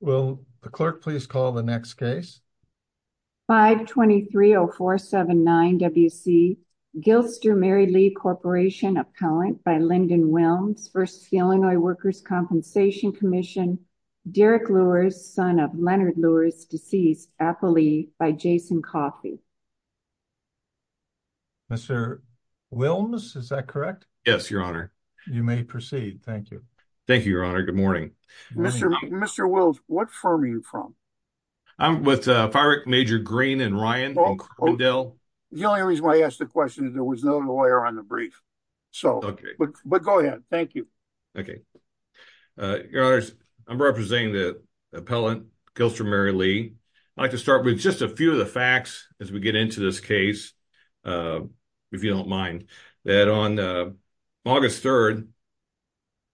Will the clerk please call the next case? 5-230-479-WC, Gilster-Mary Lee Corp. Appellant by Lyndon Wilms v. The Illinois Workers' Compensation Comm'n, Derek Lewis, son of Leonard Lewis, deceased, appellee, by Jason Coffey. Mr. Wilms, is that correct? Yes, Your Honor. You may proceed. Thank you. Thank you, Your Honor. Good morning. Mr. Wilms, what firm are you from? I'm with Firework Major Green and Ryan. The only reason why I asked the question is there was no lawyer on the brief. But go ahead. Thank you. Your Honor, I'm representing the appellant, Gilster-Mary Lee. I'd like to start with just a few of the facts as we get into this case, if you don't mind, that on August 3rd,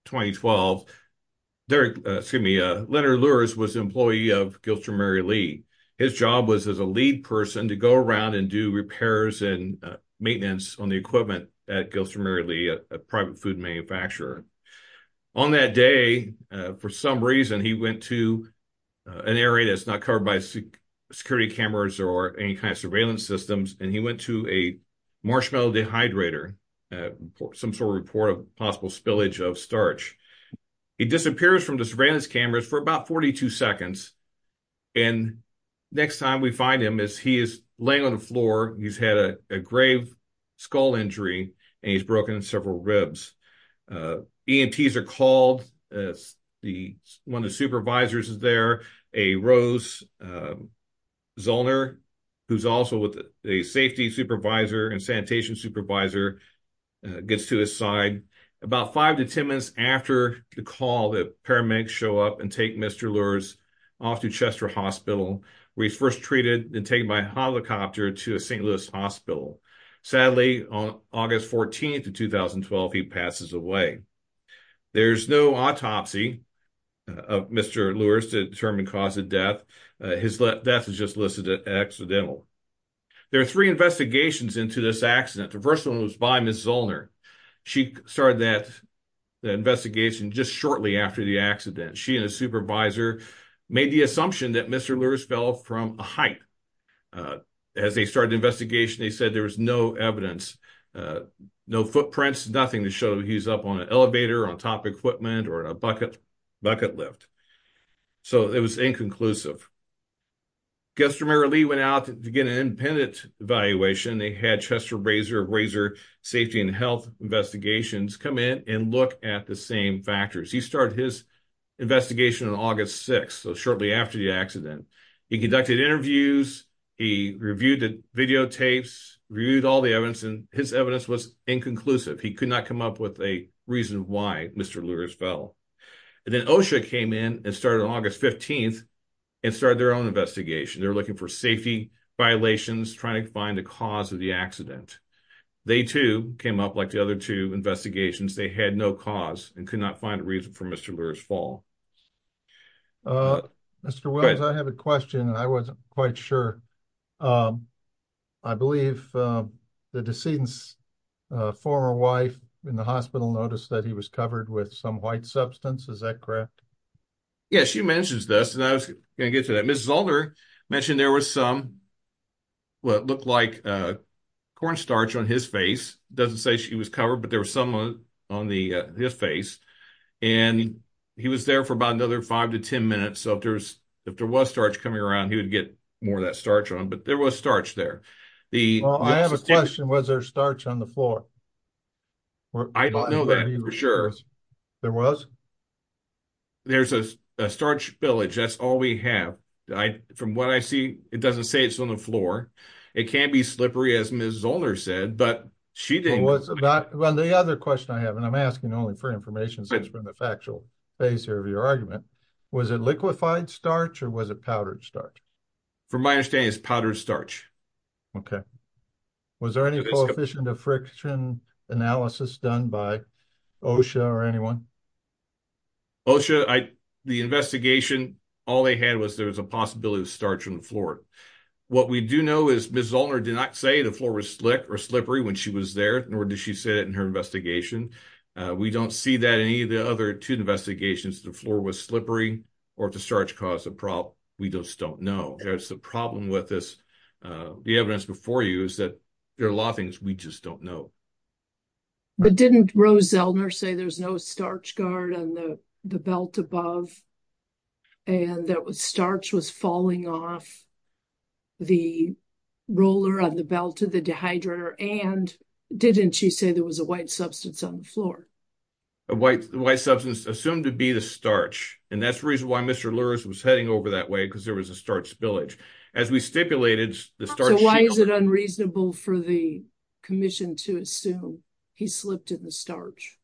2012, Leonard Lewis was an employee of Gilster-Mary Lee. His job was as a lead person to go around and do repairs and maintenance on the equipment at Gilster-Mary Lee, a private food manufacturer. On that day, for some reason, he went to an area that's not covered by security cameras or any kind of surveillance systems, and he went to a marshmallow dehydrator, some sort of report of possible spillage of starch. He disappears from the surveillance cameras for about 42 seconds. Next time we find him, he is laying on the floor. He's had a grave skull injury, and he's broken several ribs. EMTs are called. One of the supervisors is there. A Rose Zollner, who's also a safety supervisor and sanitation supervisor, gets to his side. About five to 10 minutes after the call, the paramedics show up and take Mr. Lewis off to Chester Hospital, where he's first treated and taken by helicopter to St. Louis death. His death is just listed as accidental. There are three investigations into this accident. The first one was by Ms. Zollner. She started that investigation just shortly after the accident. She and a supervisor made the assumption that Mr. Lewis fell from a height. As they started the investigation, they said there was no evidence, no footprints, nothing to show he's up on an inconclusive. Mr. Lewis went out to get an independent evaluation. They had Chester Safety and Health Investigations come in and look at the same factors. He started his investigation on August 6th, so shortly after the accident. He conducted interviews. He reviewed the videotapes, reviewed all the evidence, and his evidence was inconclusive. He could not come up with a reason why Mr. Lewis fell. Then OSHA came in and started on August 15th and started their own investigation. They were looking for safety violations, trying to find the cause of the accident. They too came up like the other two investigations. They had no cause and could not find a reason for Mr. Lewis' fall. Mr. Williams, I have a question and I wasn't quite sure. I believe the decedent's former wife in the hospital noticed that he was covered with some white substance. Is that correct? Yes, she mentions this and I was going to get to that. Ms. Zolder mentioned there was some what looked like cornstarch on his face. It doesn't say she was covered, but there was some on his face. He was there for about another five to ten minutes, so if there was starch coming around, he would get more of that starch on, but there was starch there. Well, I have a question. Was there starch on the floor? I don't know that for sure. There was? There's a starch spillage. That's all we have. From what I see, it doesn't say it's on the floor. It can be slippery, as Ms. Zolder said, but she didn't. The other question I have, and I'm asking only for information since we're in the factual phase here of your argument, was it liquefied starch or was it powdered starch? From my understanding, it's powdered starch. Okay. Was there any coefficient of friction analysis done by OSHA or anyone? OSHA, the investigation, all they had was there was a possibility of starch on the floor. What we do know is Ms. Zolder did not say the floor was slick or slippery when she was there, nor did she say that in her investigation. We don't see that in any of the other two investigations. The floor was slippery or if the starch caused a problem. We just don't know. There's a problem with this. The evidence before you is that there are a lot of things we just don't know. But didn't Rose Zeldner say there's no starch guard on the belt above and that starch was falling off the roller on the belt of the dehydrator? And didn't she say there was a white substance assumed to be the starch? And that's the reason why Mr. Lurz was heading over that way, because there was a starch spillage. As we stipulated... So why is it unreasonable for the commission to assume he slipped in the starch?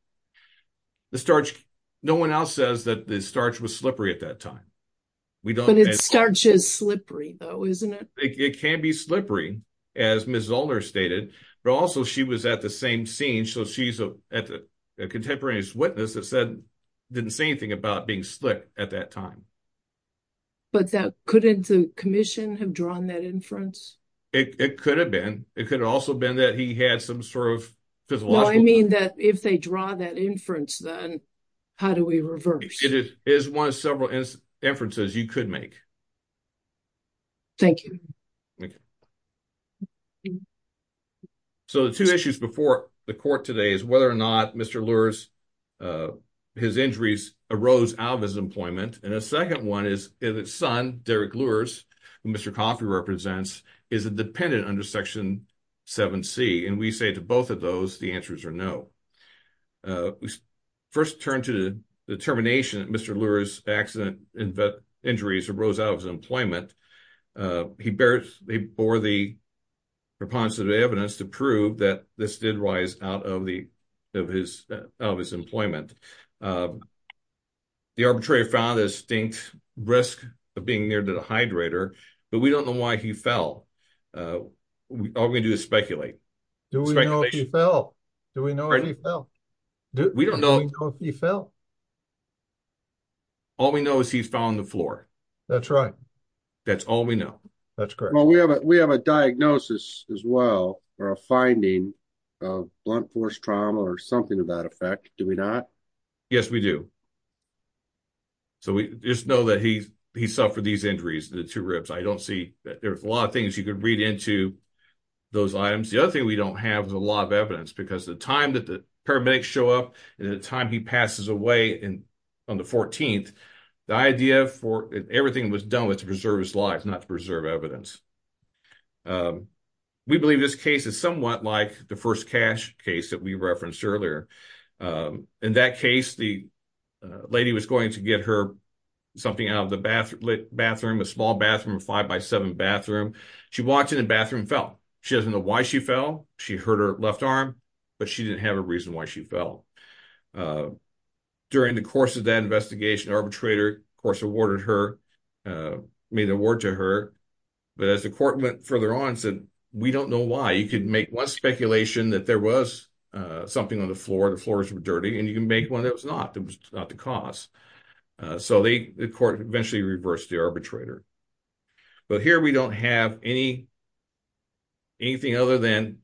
The starch, no one else says that the starch was slippery at that time. But starch is slippery though, isn't it? It can be slippery, as Ms. Zolder stated, but also she was at the same scene. So she's a contemporaneous witness that didn't say anything about being slick at that time. But couldn't the commission have drawn that inference? It could have been. It could have also been that he had some sort of... Well, I mean that if they draw that inference, then how do we reverse? It is one of several inferences you could make. Thank you. So the two issues before the court today is whether or not Mr. Lurz his injuries arose out of his employment. And a second one is if his son, Derek Lurz, who Mr. Coffey represents, is a dependent under Section 7C. And we say to both of those, the answers are no. We first turn to the determination that Mr. Lurz's accident injuries arose out of his employment. He bore the preponderance of evidence to prove that this did rise out of his employment. The arbitrator found a distinct risk of being near the dehydrator, but we don't know why he fell. All we can do is speculate. Do we know if he fell? Do we know if he fell? We don't know. All we know is he fell on the floor. That's right. That's all we know. That's correct. We have a diagnosis as well, or a finding of blunt force trauma or something of that effect. Do we not? Yes, we do. So we just know that he suffered these injuries, the two ribs. I don't see, there's a lot of things you could read into those items. The other thing we don't have is a lot of evidence because the time that the paramedics show up and the time he passes away on the 14th, the idea for everything was done was to preserve his life, not to preserve evidence. We believe this case is somewhat like the first cash case that we referenced earlier. In that case, the lady was going to get her something out of the bathroom, a small bathroom, a five by seven bathroom. She walked in the bathroom and fell. She doesn't know why she fell. She hurt her left arm, but she didn't have a reason why she fell. During the course of that investigation, the arbitrator, of course, awarded her, made an award to her, but as the court went further on, said, we don't know why. You could make one speculation that there was something on the floor, the floors were dirty, and you can make one that was not, that was not the cause. So the court eventually reversed the arbitrator. But here we don't have anything other than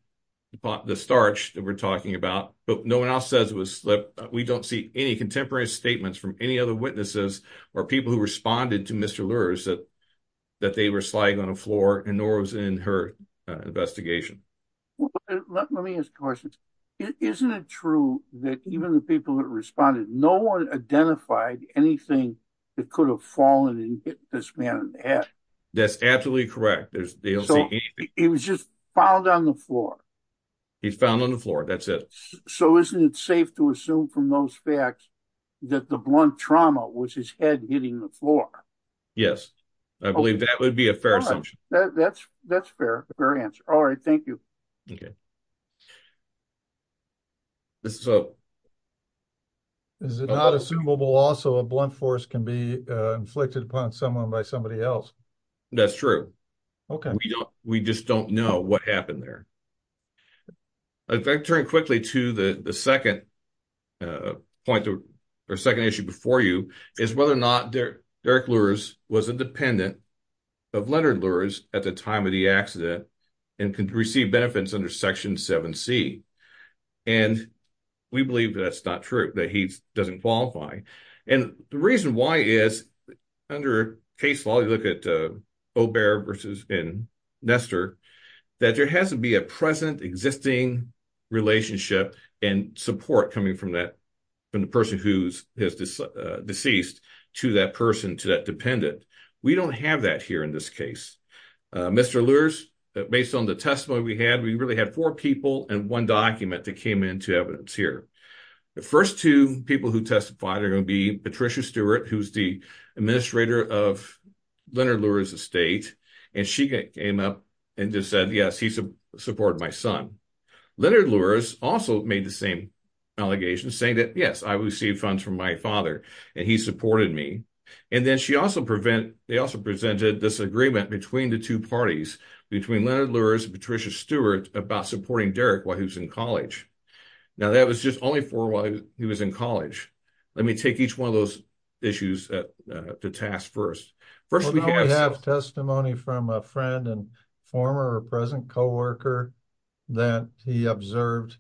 the starch that we're talking about, but no one else says it was slip. We don't see any contemporary statements from any other that they were sliding on the floor, and nor was in her investigation. Well, let me ask a question. Isn't it true that even the people that responded, no one identified anything that could have fallen and hit this man in the head? That's absolutely correct. They don't see anything. He was just found on the floor. He's found on the floor. That's it. So isn't it safe to assume from those facts that the blunt trauma was his head hitting the floor? Yes. I believe that would be a fair assumption. That's fair. All right. Thank you. Is it not assumable also a blunt force can be inflicted upon someone by somebody else? That's true. We just don't know what happened there. I'd like to turn quickly to the second point or second issue before you is whether or not Derek Lurz was independent of Leonard Lurz at the time of the accident and could receive benefits under Section 7C. And we believe that's not true, that he doesn't qualify. And the reason why is under case law, you look at Obear versus Nestor, that there has to be a present existing relationship and support coming from the person who's deceased to that person, to that dependent. We don't have that here in this case. Mr. Lurz, based on the testimony we had, we really had four people and one document that came into evidence here. The first two people who testified are going to be Patricia Stewart, who's the just said, yes, he supported my son. Leonard Lurz also made the same allegation saying that, yes, I received funds from my father and he supported me. And then they also presented this agreement between the two parties, between Leonard Lurz and Patricia Stewart about supporting Derek while he was in college. Now, that was just only for while he was in college. Let me take each one of those issues to task first. First, we have testimony from a friend and former or present co-worker that he observed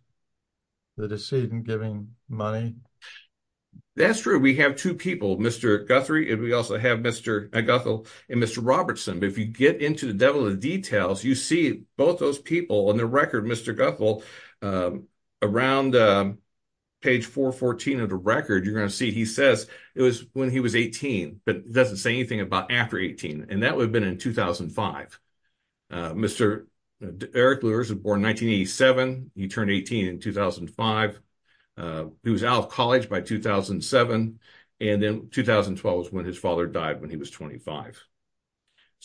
the decedent giving money. That's true. We have two people, Mr. Guthrie, and we also have Mr. Guthrie and Mr. Robertson. If you get into the devil of details, you see both those people on the record, Mr. Guthrie, around page 414 of the record, you're going to see he says it was when he was 18, but doesn't say anything about after 18. And that would have been in 2005. Mr. Eric Lurz was born in 1987. He turned 18 in 2005. He was out of college by 2007. And then 2012 was when his father died when he was 25.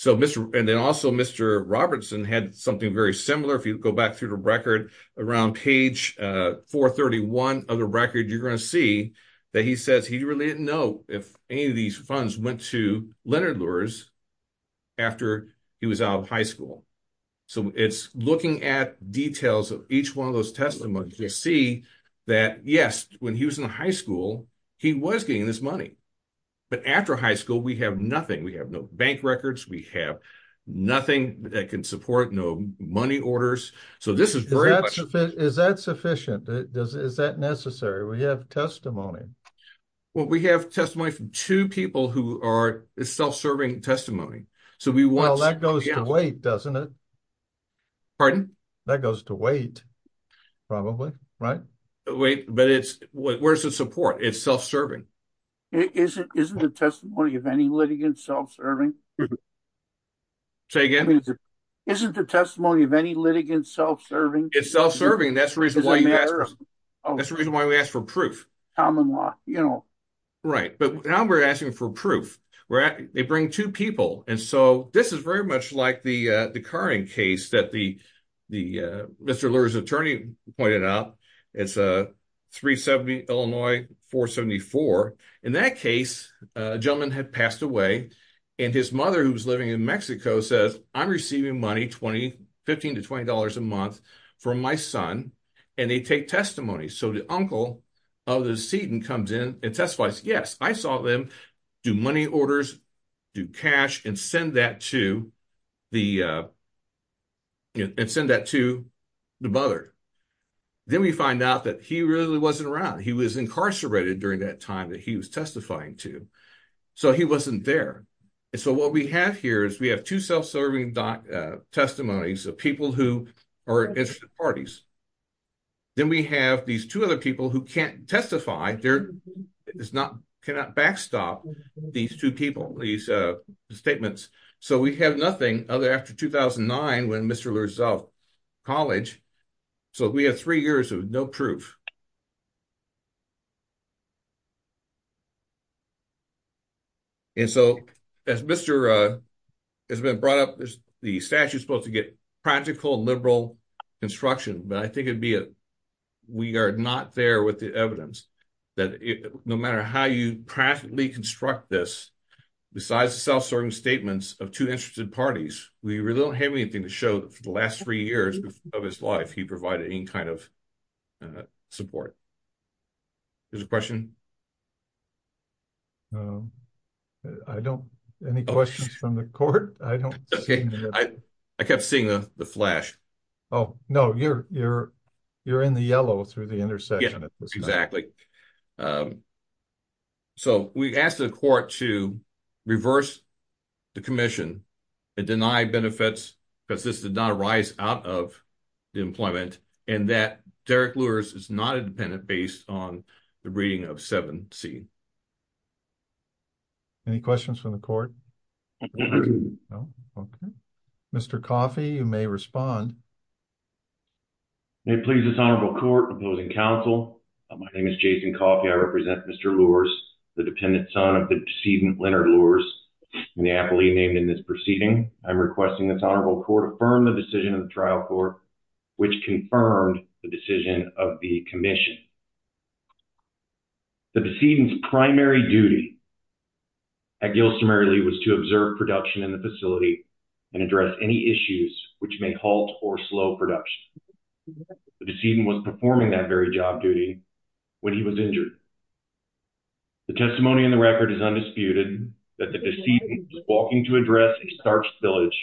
And then also Mr. Robertson had something very similar. If you go back through the record around page 431 of the record, you're going to see that he says he really didn't know if any of these funds went to Leonard Lurz after he was out of high school. So it's looking at details of each one of those testimonies. You see that, yes, when he was in high school, he was getting this money. But after high school, we have nothing. We have no bank records. We have nothing that can support, no money orders. So this is very much... Is that sufficient? Is that necessary? We have testimony. Well, we have testimony from two people who are self-serving testimony. Well, that goes to wait, doesn't it? Pardon? That goes to wait, probably, right? Wait, but where's the support? It's self-serving. Isn't the testimony of any litigant self-serving? Say again? Isn't the testimony of any litigant self-serving? It's self-serving. That's the reason why we ask for proof. Right. But now we're asking for proof. They bring two people. And so this is very much like the current case that Mr. Lurz's attorney pointed out. It's a 370 Illinois 474. In that case, a gentleman had passed away. And his mother, who was living in Mexico, says, I'm receiving money, $15 to $20 a month from my son, and they take testimony. So the uncle of the decedent comes in and testifies. Yes, I saw them do money orders, do cash and send that to the mother. Then we find out that he really wasn't around. He was incarcerated during that time that he was testifying to. So he wasn't there. And so what we have here is we have two self-serving testimonies of people who are interested parties. Then we have these two other people who can't testify. They cannot backstop these two people, these statements. So we have nothing other after 2009 when Mr. Lurz was out of college. So we have three years of no proof. And so as Mr. has been brought up, the statute is supposed to get practical, liberal construction. But I think we are not there with the evidence that no matter how you practically construct this, besides the self-serving statements of two interested parties, we really don't have anything to show that for the last three years of his life he provided any kind of support. There's a question? I don't, any questions from the court? I don't, I kept seeing the flash. Oh, no, you're in the yellow through the intersection. Exactly. So we asked the court to reverse the commission and deny benefits because this did not arise out of the employment and that Derek Lurz is not a dependent based on the reading of 7C. Any questions from the court? No. Okay. Mr. Coffey, you may respond. May it please this honorable court, opposing counsel, my name is Jason Coffey. I represent Mr. Lurz, the dependent son of the decedent Leonard Lurz, in the affilee named in this trial court, which confirmed the decision of the commission. The decedent's primary duty at Gilston Mary Lee was to observe production in the facility and address any issues which may halt or slow production. The decedent was performing that very job duty when he was injured. The testimony in the record is undisputed that the decedent was walking to address a starch spillage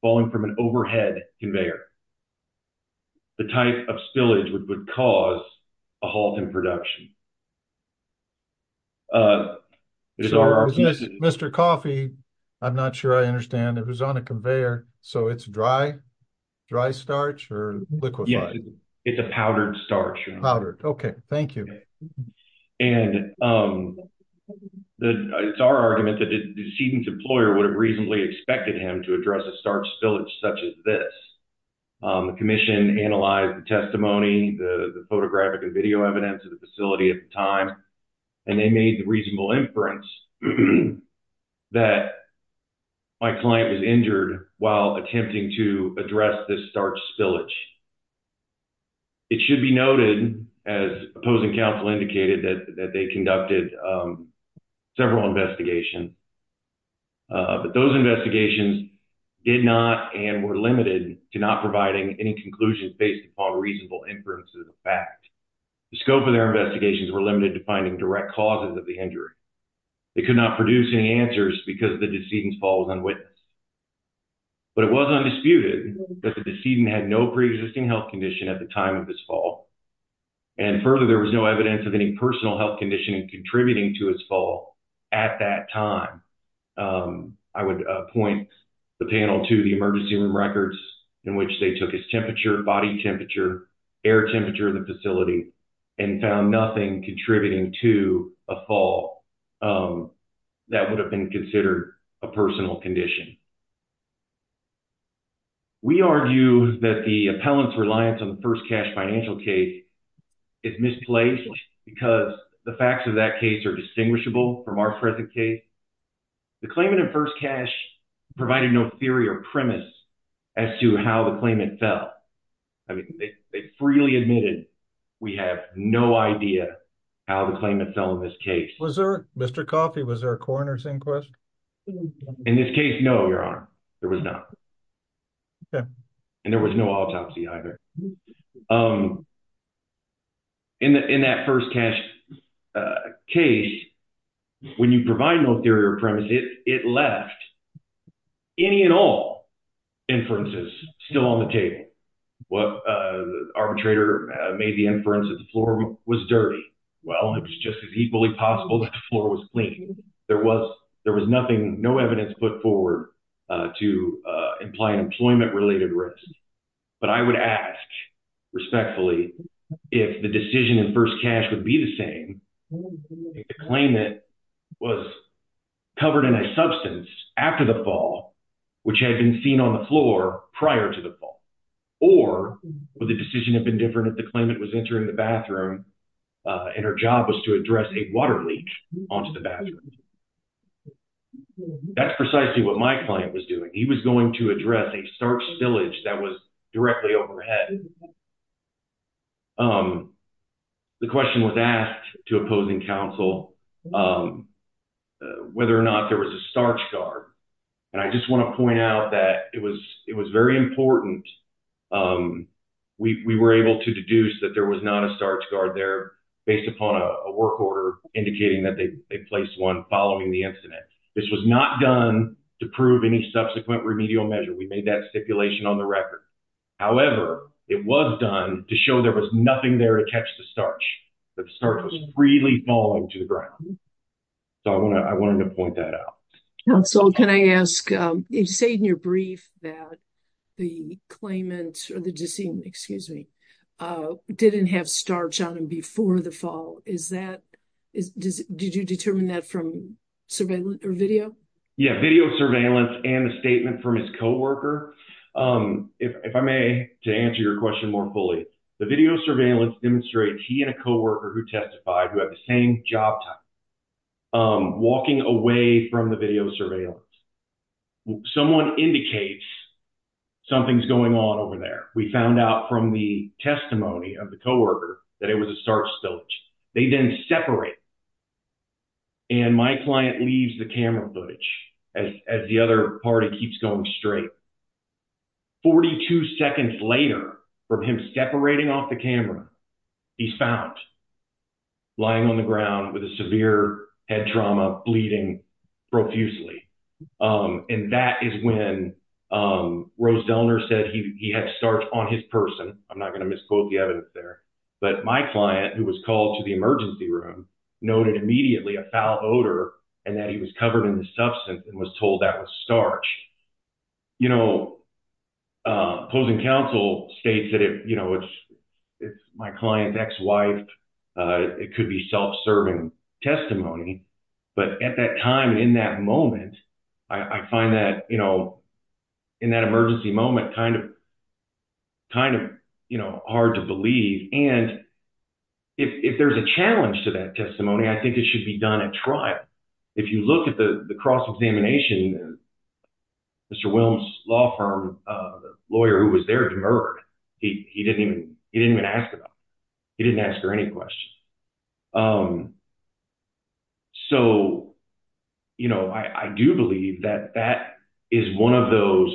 falling from an overhead conveyor. The type of spillage would cause a halt in production. Mr. Coffey, I'm not sure I understand, it was on a conveyor, so it's dry starch or liquefied? Yes, it's a powdered starch. Okay, thank you. And it's our argument that the decedent's employer would have reasonably expected him to address a starch spillage such as this. The commission analyzed the testimony, the photographic and video evidence of the facility at the time, and they made the reasonable inference that my client was injured while attempting to address this starch spillage. It should be noted, as opposing counsel indicated, that they conducted several investigations, but those investigations did not and were limited to not providing any conclusions based upon reasonable inferences of fact. The scope of their investigations were limited to finding direct causes of the injury. They could not produce any answers because the decedent's fall was unwitnessed. But it was undisputed that the decedent had no preexisting health condition at the time of his fall. And further, there was no evidence of any personal health condition contributing to his fall at that time. I would point the panel to the emergency room records in which they took his temperature, body temperature, air temperature of the facility, and found nothing contributing to a fall that would have been considered a personal condition. We argue that the appellant's reliance on the first cash financial case is misplaced because the facts of that case are distinguishable from our present case. The claimant in first cash provided no theory or premise as to how the claimant fell. I mean, they freely admitted we have no idea how the claimant fell in this case. Was there, Mr. Coffey, was there a coroner's inquest? In this case, no, your honor. There was not. Okay. And there was no autopsy either. In that first cash case, when you provide no theory or premise, it left any and all inferences still on the table. The arbitrator made the inference that the floor was dirty. Well, it was just as equally possible that the floor was clean. There was nothing, no evidence put forward to imply an employment-related risk. But I would ask respectfully if the decision in first cash would be the same, if the claimant was covered in a substance after the fall, which had been seen on the floor prior to the fall, or would the decision have been different if the claimant was entering the bathroom and her job was to address a water leak onto the bathroom? That's precisely what my client was doing. He was going to address a water leak. The question was asked to opposing counsel whether or not there was a starch guard. And I just want to point out that it was very important. We were able to deduce that there was not a starch guard there based upon a work order indicating that they placed one following the incident. This was not done to prove any subsequent remedial measure. We made that stipulation on the nothing there to catch the starch. The starch was freely falling to the ground. So I wanted to point that out. Counsel, can I ask, you say in your brief that the claimant or the decision, excuse me, didn't have starch on him before the fall. Is that, did you determine that from surveillance or video? Yeah, video surveillance and a statement from his co-worker. If I may, to answer your question more fully, the video surveillance demonstrates he and a co-worker who testified who had the same job type walking away from the video surveillance. Someone indicates something's going on over there. We found out from the testimony of the co-worker that it was a starch spillage. They then separate and my client leaves the camera footage as the other party keeps going straight. 42 seconds later from him separating off the camera, he's found lying on the ground with a severe head trauma, bleeding profusely. And that is when Rose Delner said he had starch on his person. I'm not going to misquote the evidence there, but my client who was called to the emergency room noted immediately a foul odor and that he was covered in the substance and was told that was starch. Opposing counsel states that if my client's ex-wife, it could be self-serving testimony. But at that time and in that moment, I find that in that emergency moment kind of hard to believe. And if there's a challenge to that testimony, I think it should be done at trial. If you look at the cross-examination, Mr. Wilms' law firm lawyer who was there demurred, he didn't even ask about it. He didn't ask her any questions. So I do believe that that is one of those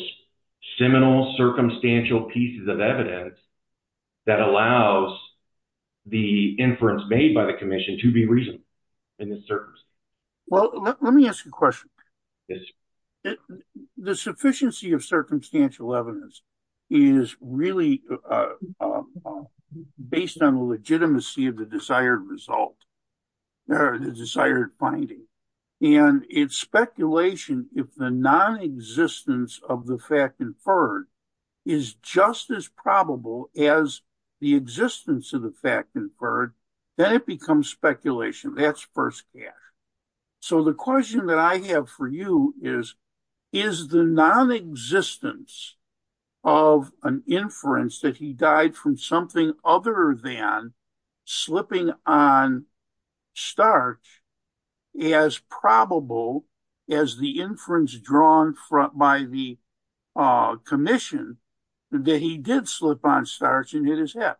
seminal circumstantial pieces of evidence that allows the inference made by the commission to be reasonable in this circumstance. Well, let me ask you a question. The sufficiency of circumstantial evidence is really based on the legitimacy of the desired result or the desired finding. And it's speculation if the non-existence of the fact inferred is just as probable as the existence of the fact inferred, then it becomes speculation. That's first cash. So the question that I have for you is, is the non-existence of an inference that he died from something other than slipping on starch as probable as the inference drawn by the commission that he did slip on starch and hit his head?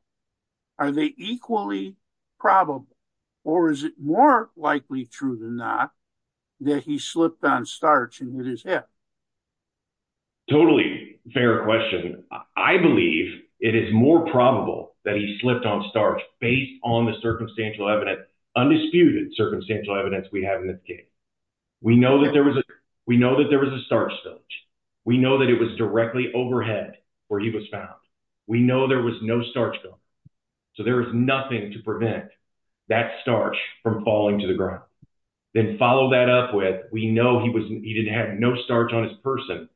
Are they equally probable? Or is it more likely true than not that he slipped on starch and hit his head? Totally fair question. I believe it is more probable that he slipped on starch based on the circumstantial evidence, undisputed circumstantial evidence we have in this case. We know that there was a starch spillage. We know that it was directly overhead where he was found. We know there was no starch going. So there is nothing to prevent that starch from falling to the ground. Then follow that up with, we know he didn't have no starch on his person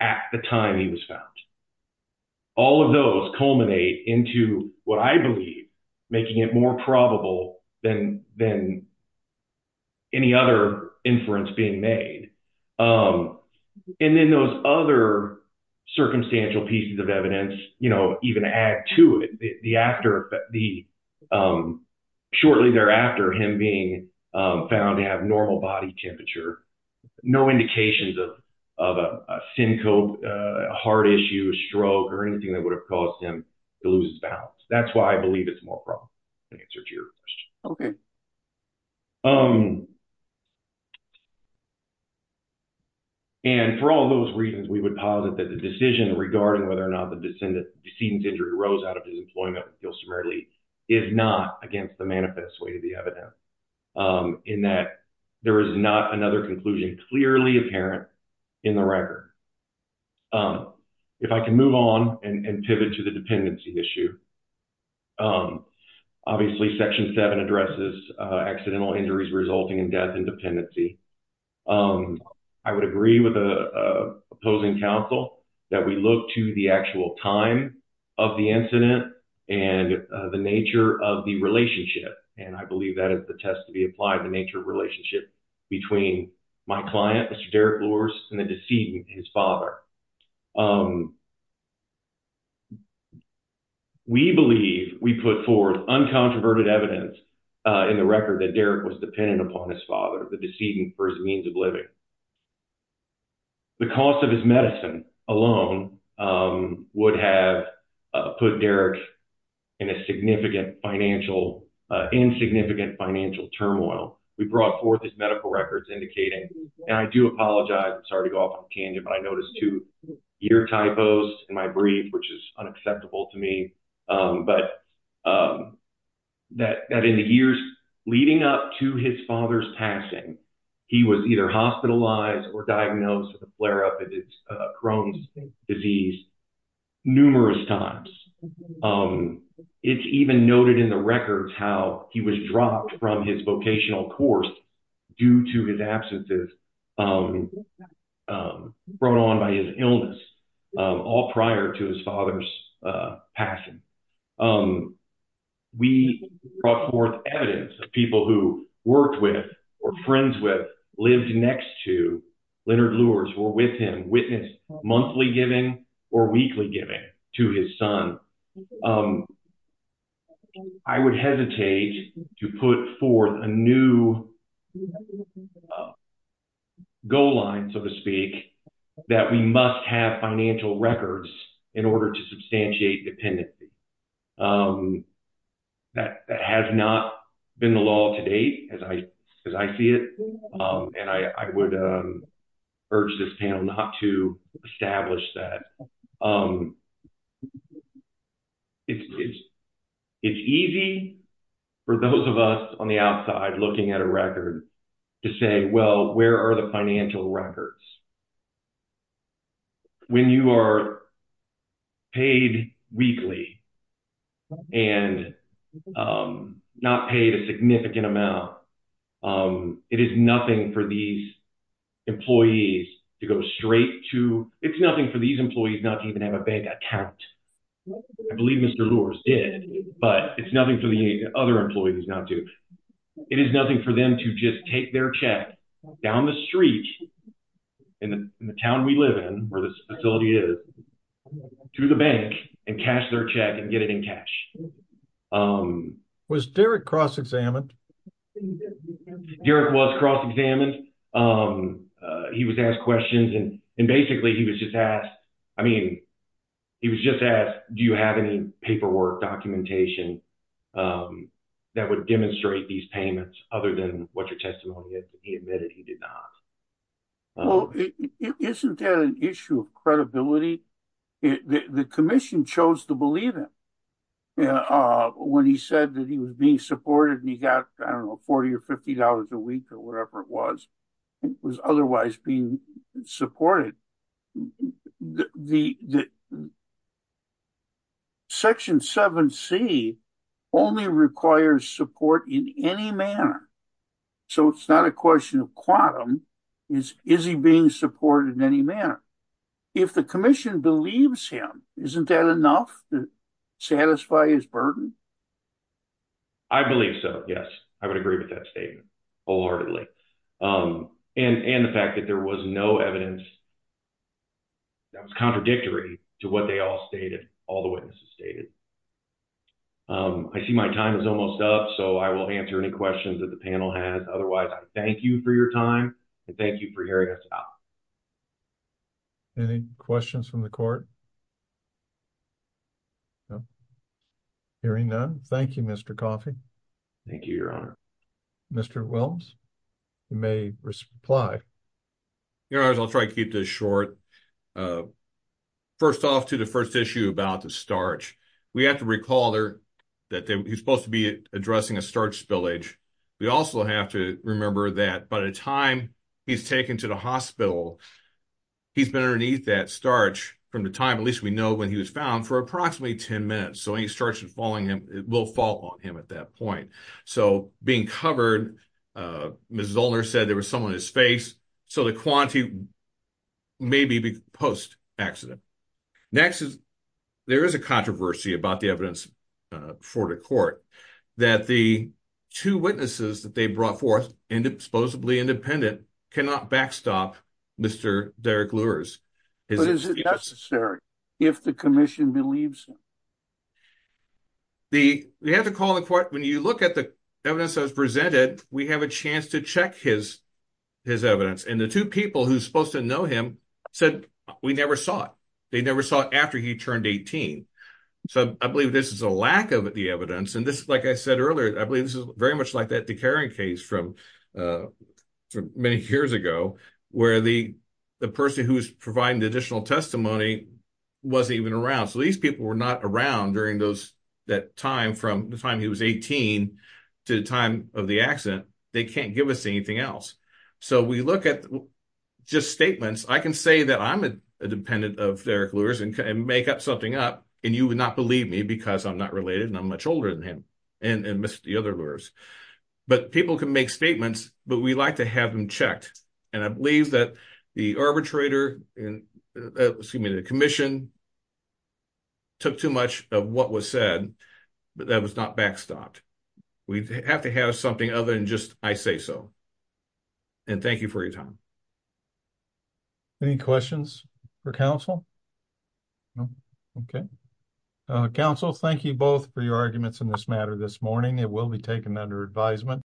at the time he was found. All of those culminate into what I believe making it more probable than any other inference being made. And then those other circumstantial pieces of evidence, you know, even add to it, shortly thereafter him being found to have normal body temperature, no indications of a syncope, a heart issue, a stroke, or anything that would have caused him to lose his balance. That's why I believe it's more probable in answer to your question. And for all those reasons, we would posit that the decision regarding whether or not the decedent's injury arose out of his employment with Gilson-Mary Lee is not against the manifest way to the evidence. In that there is not another conclusion clearly apparent in the record. If I can move on and pivot to the dependency issue. Obviously, Section 7 addresses accidental injuries resulting in death and dependency. I would agree with the opposing counsel that we look to the actual time of the incident and the nature of the relationship. And I believe that is the test to be applied, the nature of relationship between my client, Mr. Derek Louris, and the decedent, his father. We believe we put forth uncontroverted evidence in the record that Derek was dependent upon his father, the decedent, for his means of living. The cost of his medicine alone would have put Derek in a significant financial, insignificant financial turmoil. We brought forth his medical records indicating, and I do apologize, I'm sorry to go off on a tangent, but I noticed two ear typos in my brief, which is unacceptable to me. But that in the years leading up to his father's passing, he was either hospitalized or diagnosed with a flare-up of his times. It's even noted in the records how he was dropped from his vocational course due to his absences brought on by his illness, all prior to his father's passing. We brought forth evidence of people who worked with or friends with, lived next to Leonard Louris, were with him, monthly giving or weekly giving to his son. I would hesitate to put forth a new goal line, so to speak, that we must have financial records in order to substantiate dependency. That has not been the law to date, as I see it, and I would urge this panel not to establish that. It's easy for those of us on the outside looking at a record to say, well, where are the financial records? When you are paid weekly and not paid a significant amount, it is nothing for these employees to go straight to, it's nothing for these employees not to even have a bank account. I believe Mr. Louris did, but it's nothing for the other employees not to, it is nothing for them to just take their check down the street in the town we live in, where this facility is, to the bank and cash their check and get it in cash. Was Derek cross-examined? Derek was cross-examined. He was asked questions and basically he was just asked, I mean, that would demonstrate these payments other than what your testimony is. He admitted he did not. Well, isn't that an issue of credibility? The commission chose to believe him when he said that he was being supported and he got, I don't know, 40 or 50 dollars a week or whatever it was. It was otherwise being supported. Section 7C only requires support in any manner. So, it's not a question of quantum. Is he being supported in any manner? If the commission believes him, isn't that enough to satisfy his burden? I believe so, yes. I would agree with that statement wholeheartedly. And the fact that there was no evidence that was contradictory to what they all stated, all the witnesses stated. I see my time is almost up, so I will answer any questions that the panel has. Otherwise, I thank you for your time and thank you for hearing us out. Any questions from the court? Hearing none, thank you, Mr. Coffey. Thank you, Your Honor. Mr. Wilms, you may reply. Your Honor, I'll try to keep this short. First off to the first issue about the starch. We have to recall that he's supposed to be addressing a starch spillage. We also have to remember that by the time he's taken to the hospital, he's been underneath that starch from the time, at least we know when he was found, for approximately 10 minutes. So, it will fall on him at that point. So, being covered, Ms. Zoellner said there was some on his face. So, the quantity may be post-accident. Next, there is a controversy about the evidence before the court that the two witnesses that they brought forth, supposedly independent, cannot backstop Mr. Derek Lures. But is it necessary if the commission believes him? The, we have to call the court, when you look at the evidence that was presented, we have a chance to check his evidence. And the two people who are supposed to know him said, we never saw it. They never saw it after he turned 18. So, I believe this is a lack of the evidence. And this, like I said earlier, I believe this is very much like that Decarron case from many years ago, where the person who was providing additional testimony wasn't even around. So, these people were not around during those, that time from the time he was 18 to the time of the accident. They can't give us anything else. So, we look at just statements. I can say that I'm a dependent of Derek Lures and make something up, and you would not believe me because I'm not related and I'm much older than him and Mr. Lures. But people can make statements, but we like to have them checked. And I believe that the arbitrator, excuse me, the commission took too much of what was said, but that was not backstopped. We have to have something other than just, I say so. And thank you for your time. Any questions for counsel? No. Okay. Counsel, thank you both for your arguments in this matter this morning. It will be taken under advisement.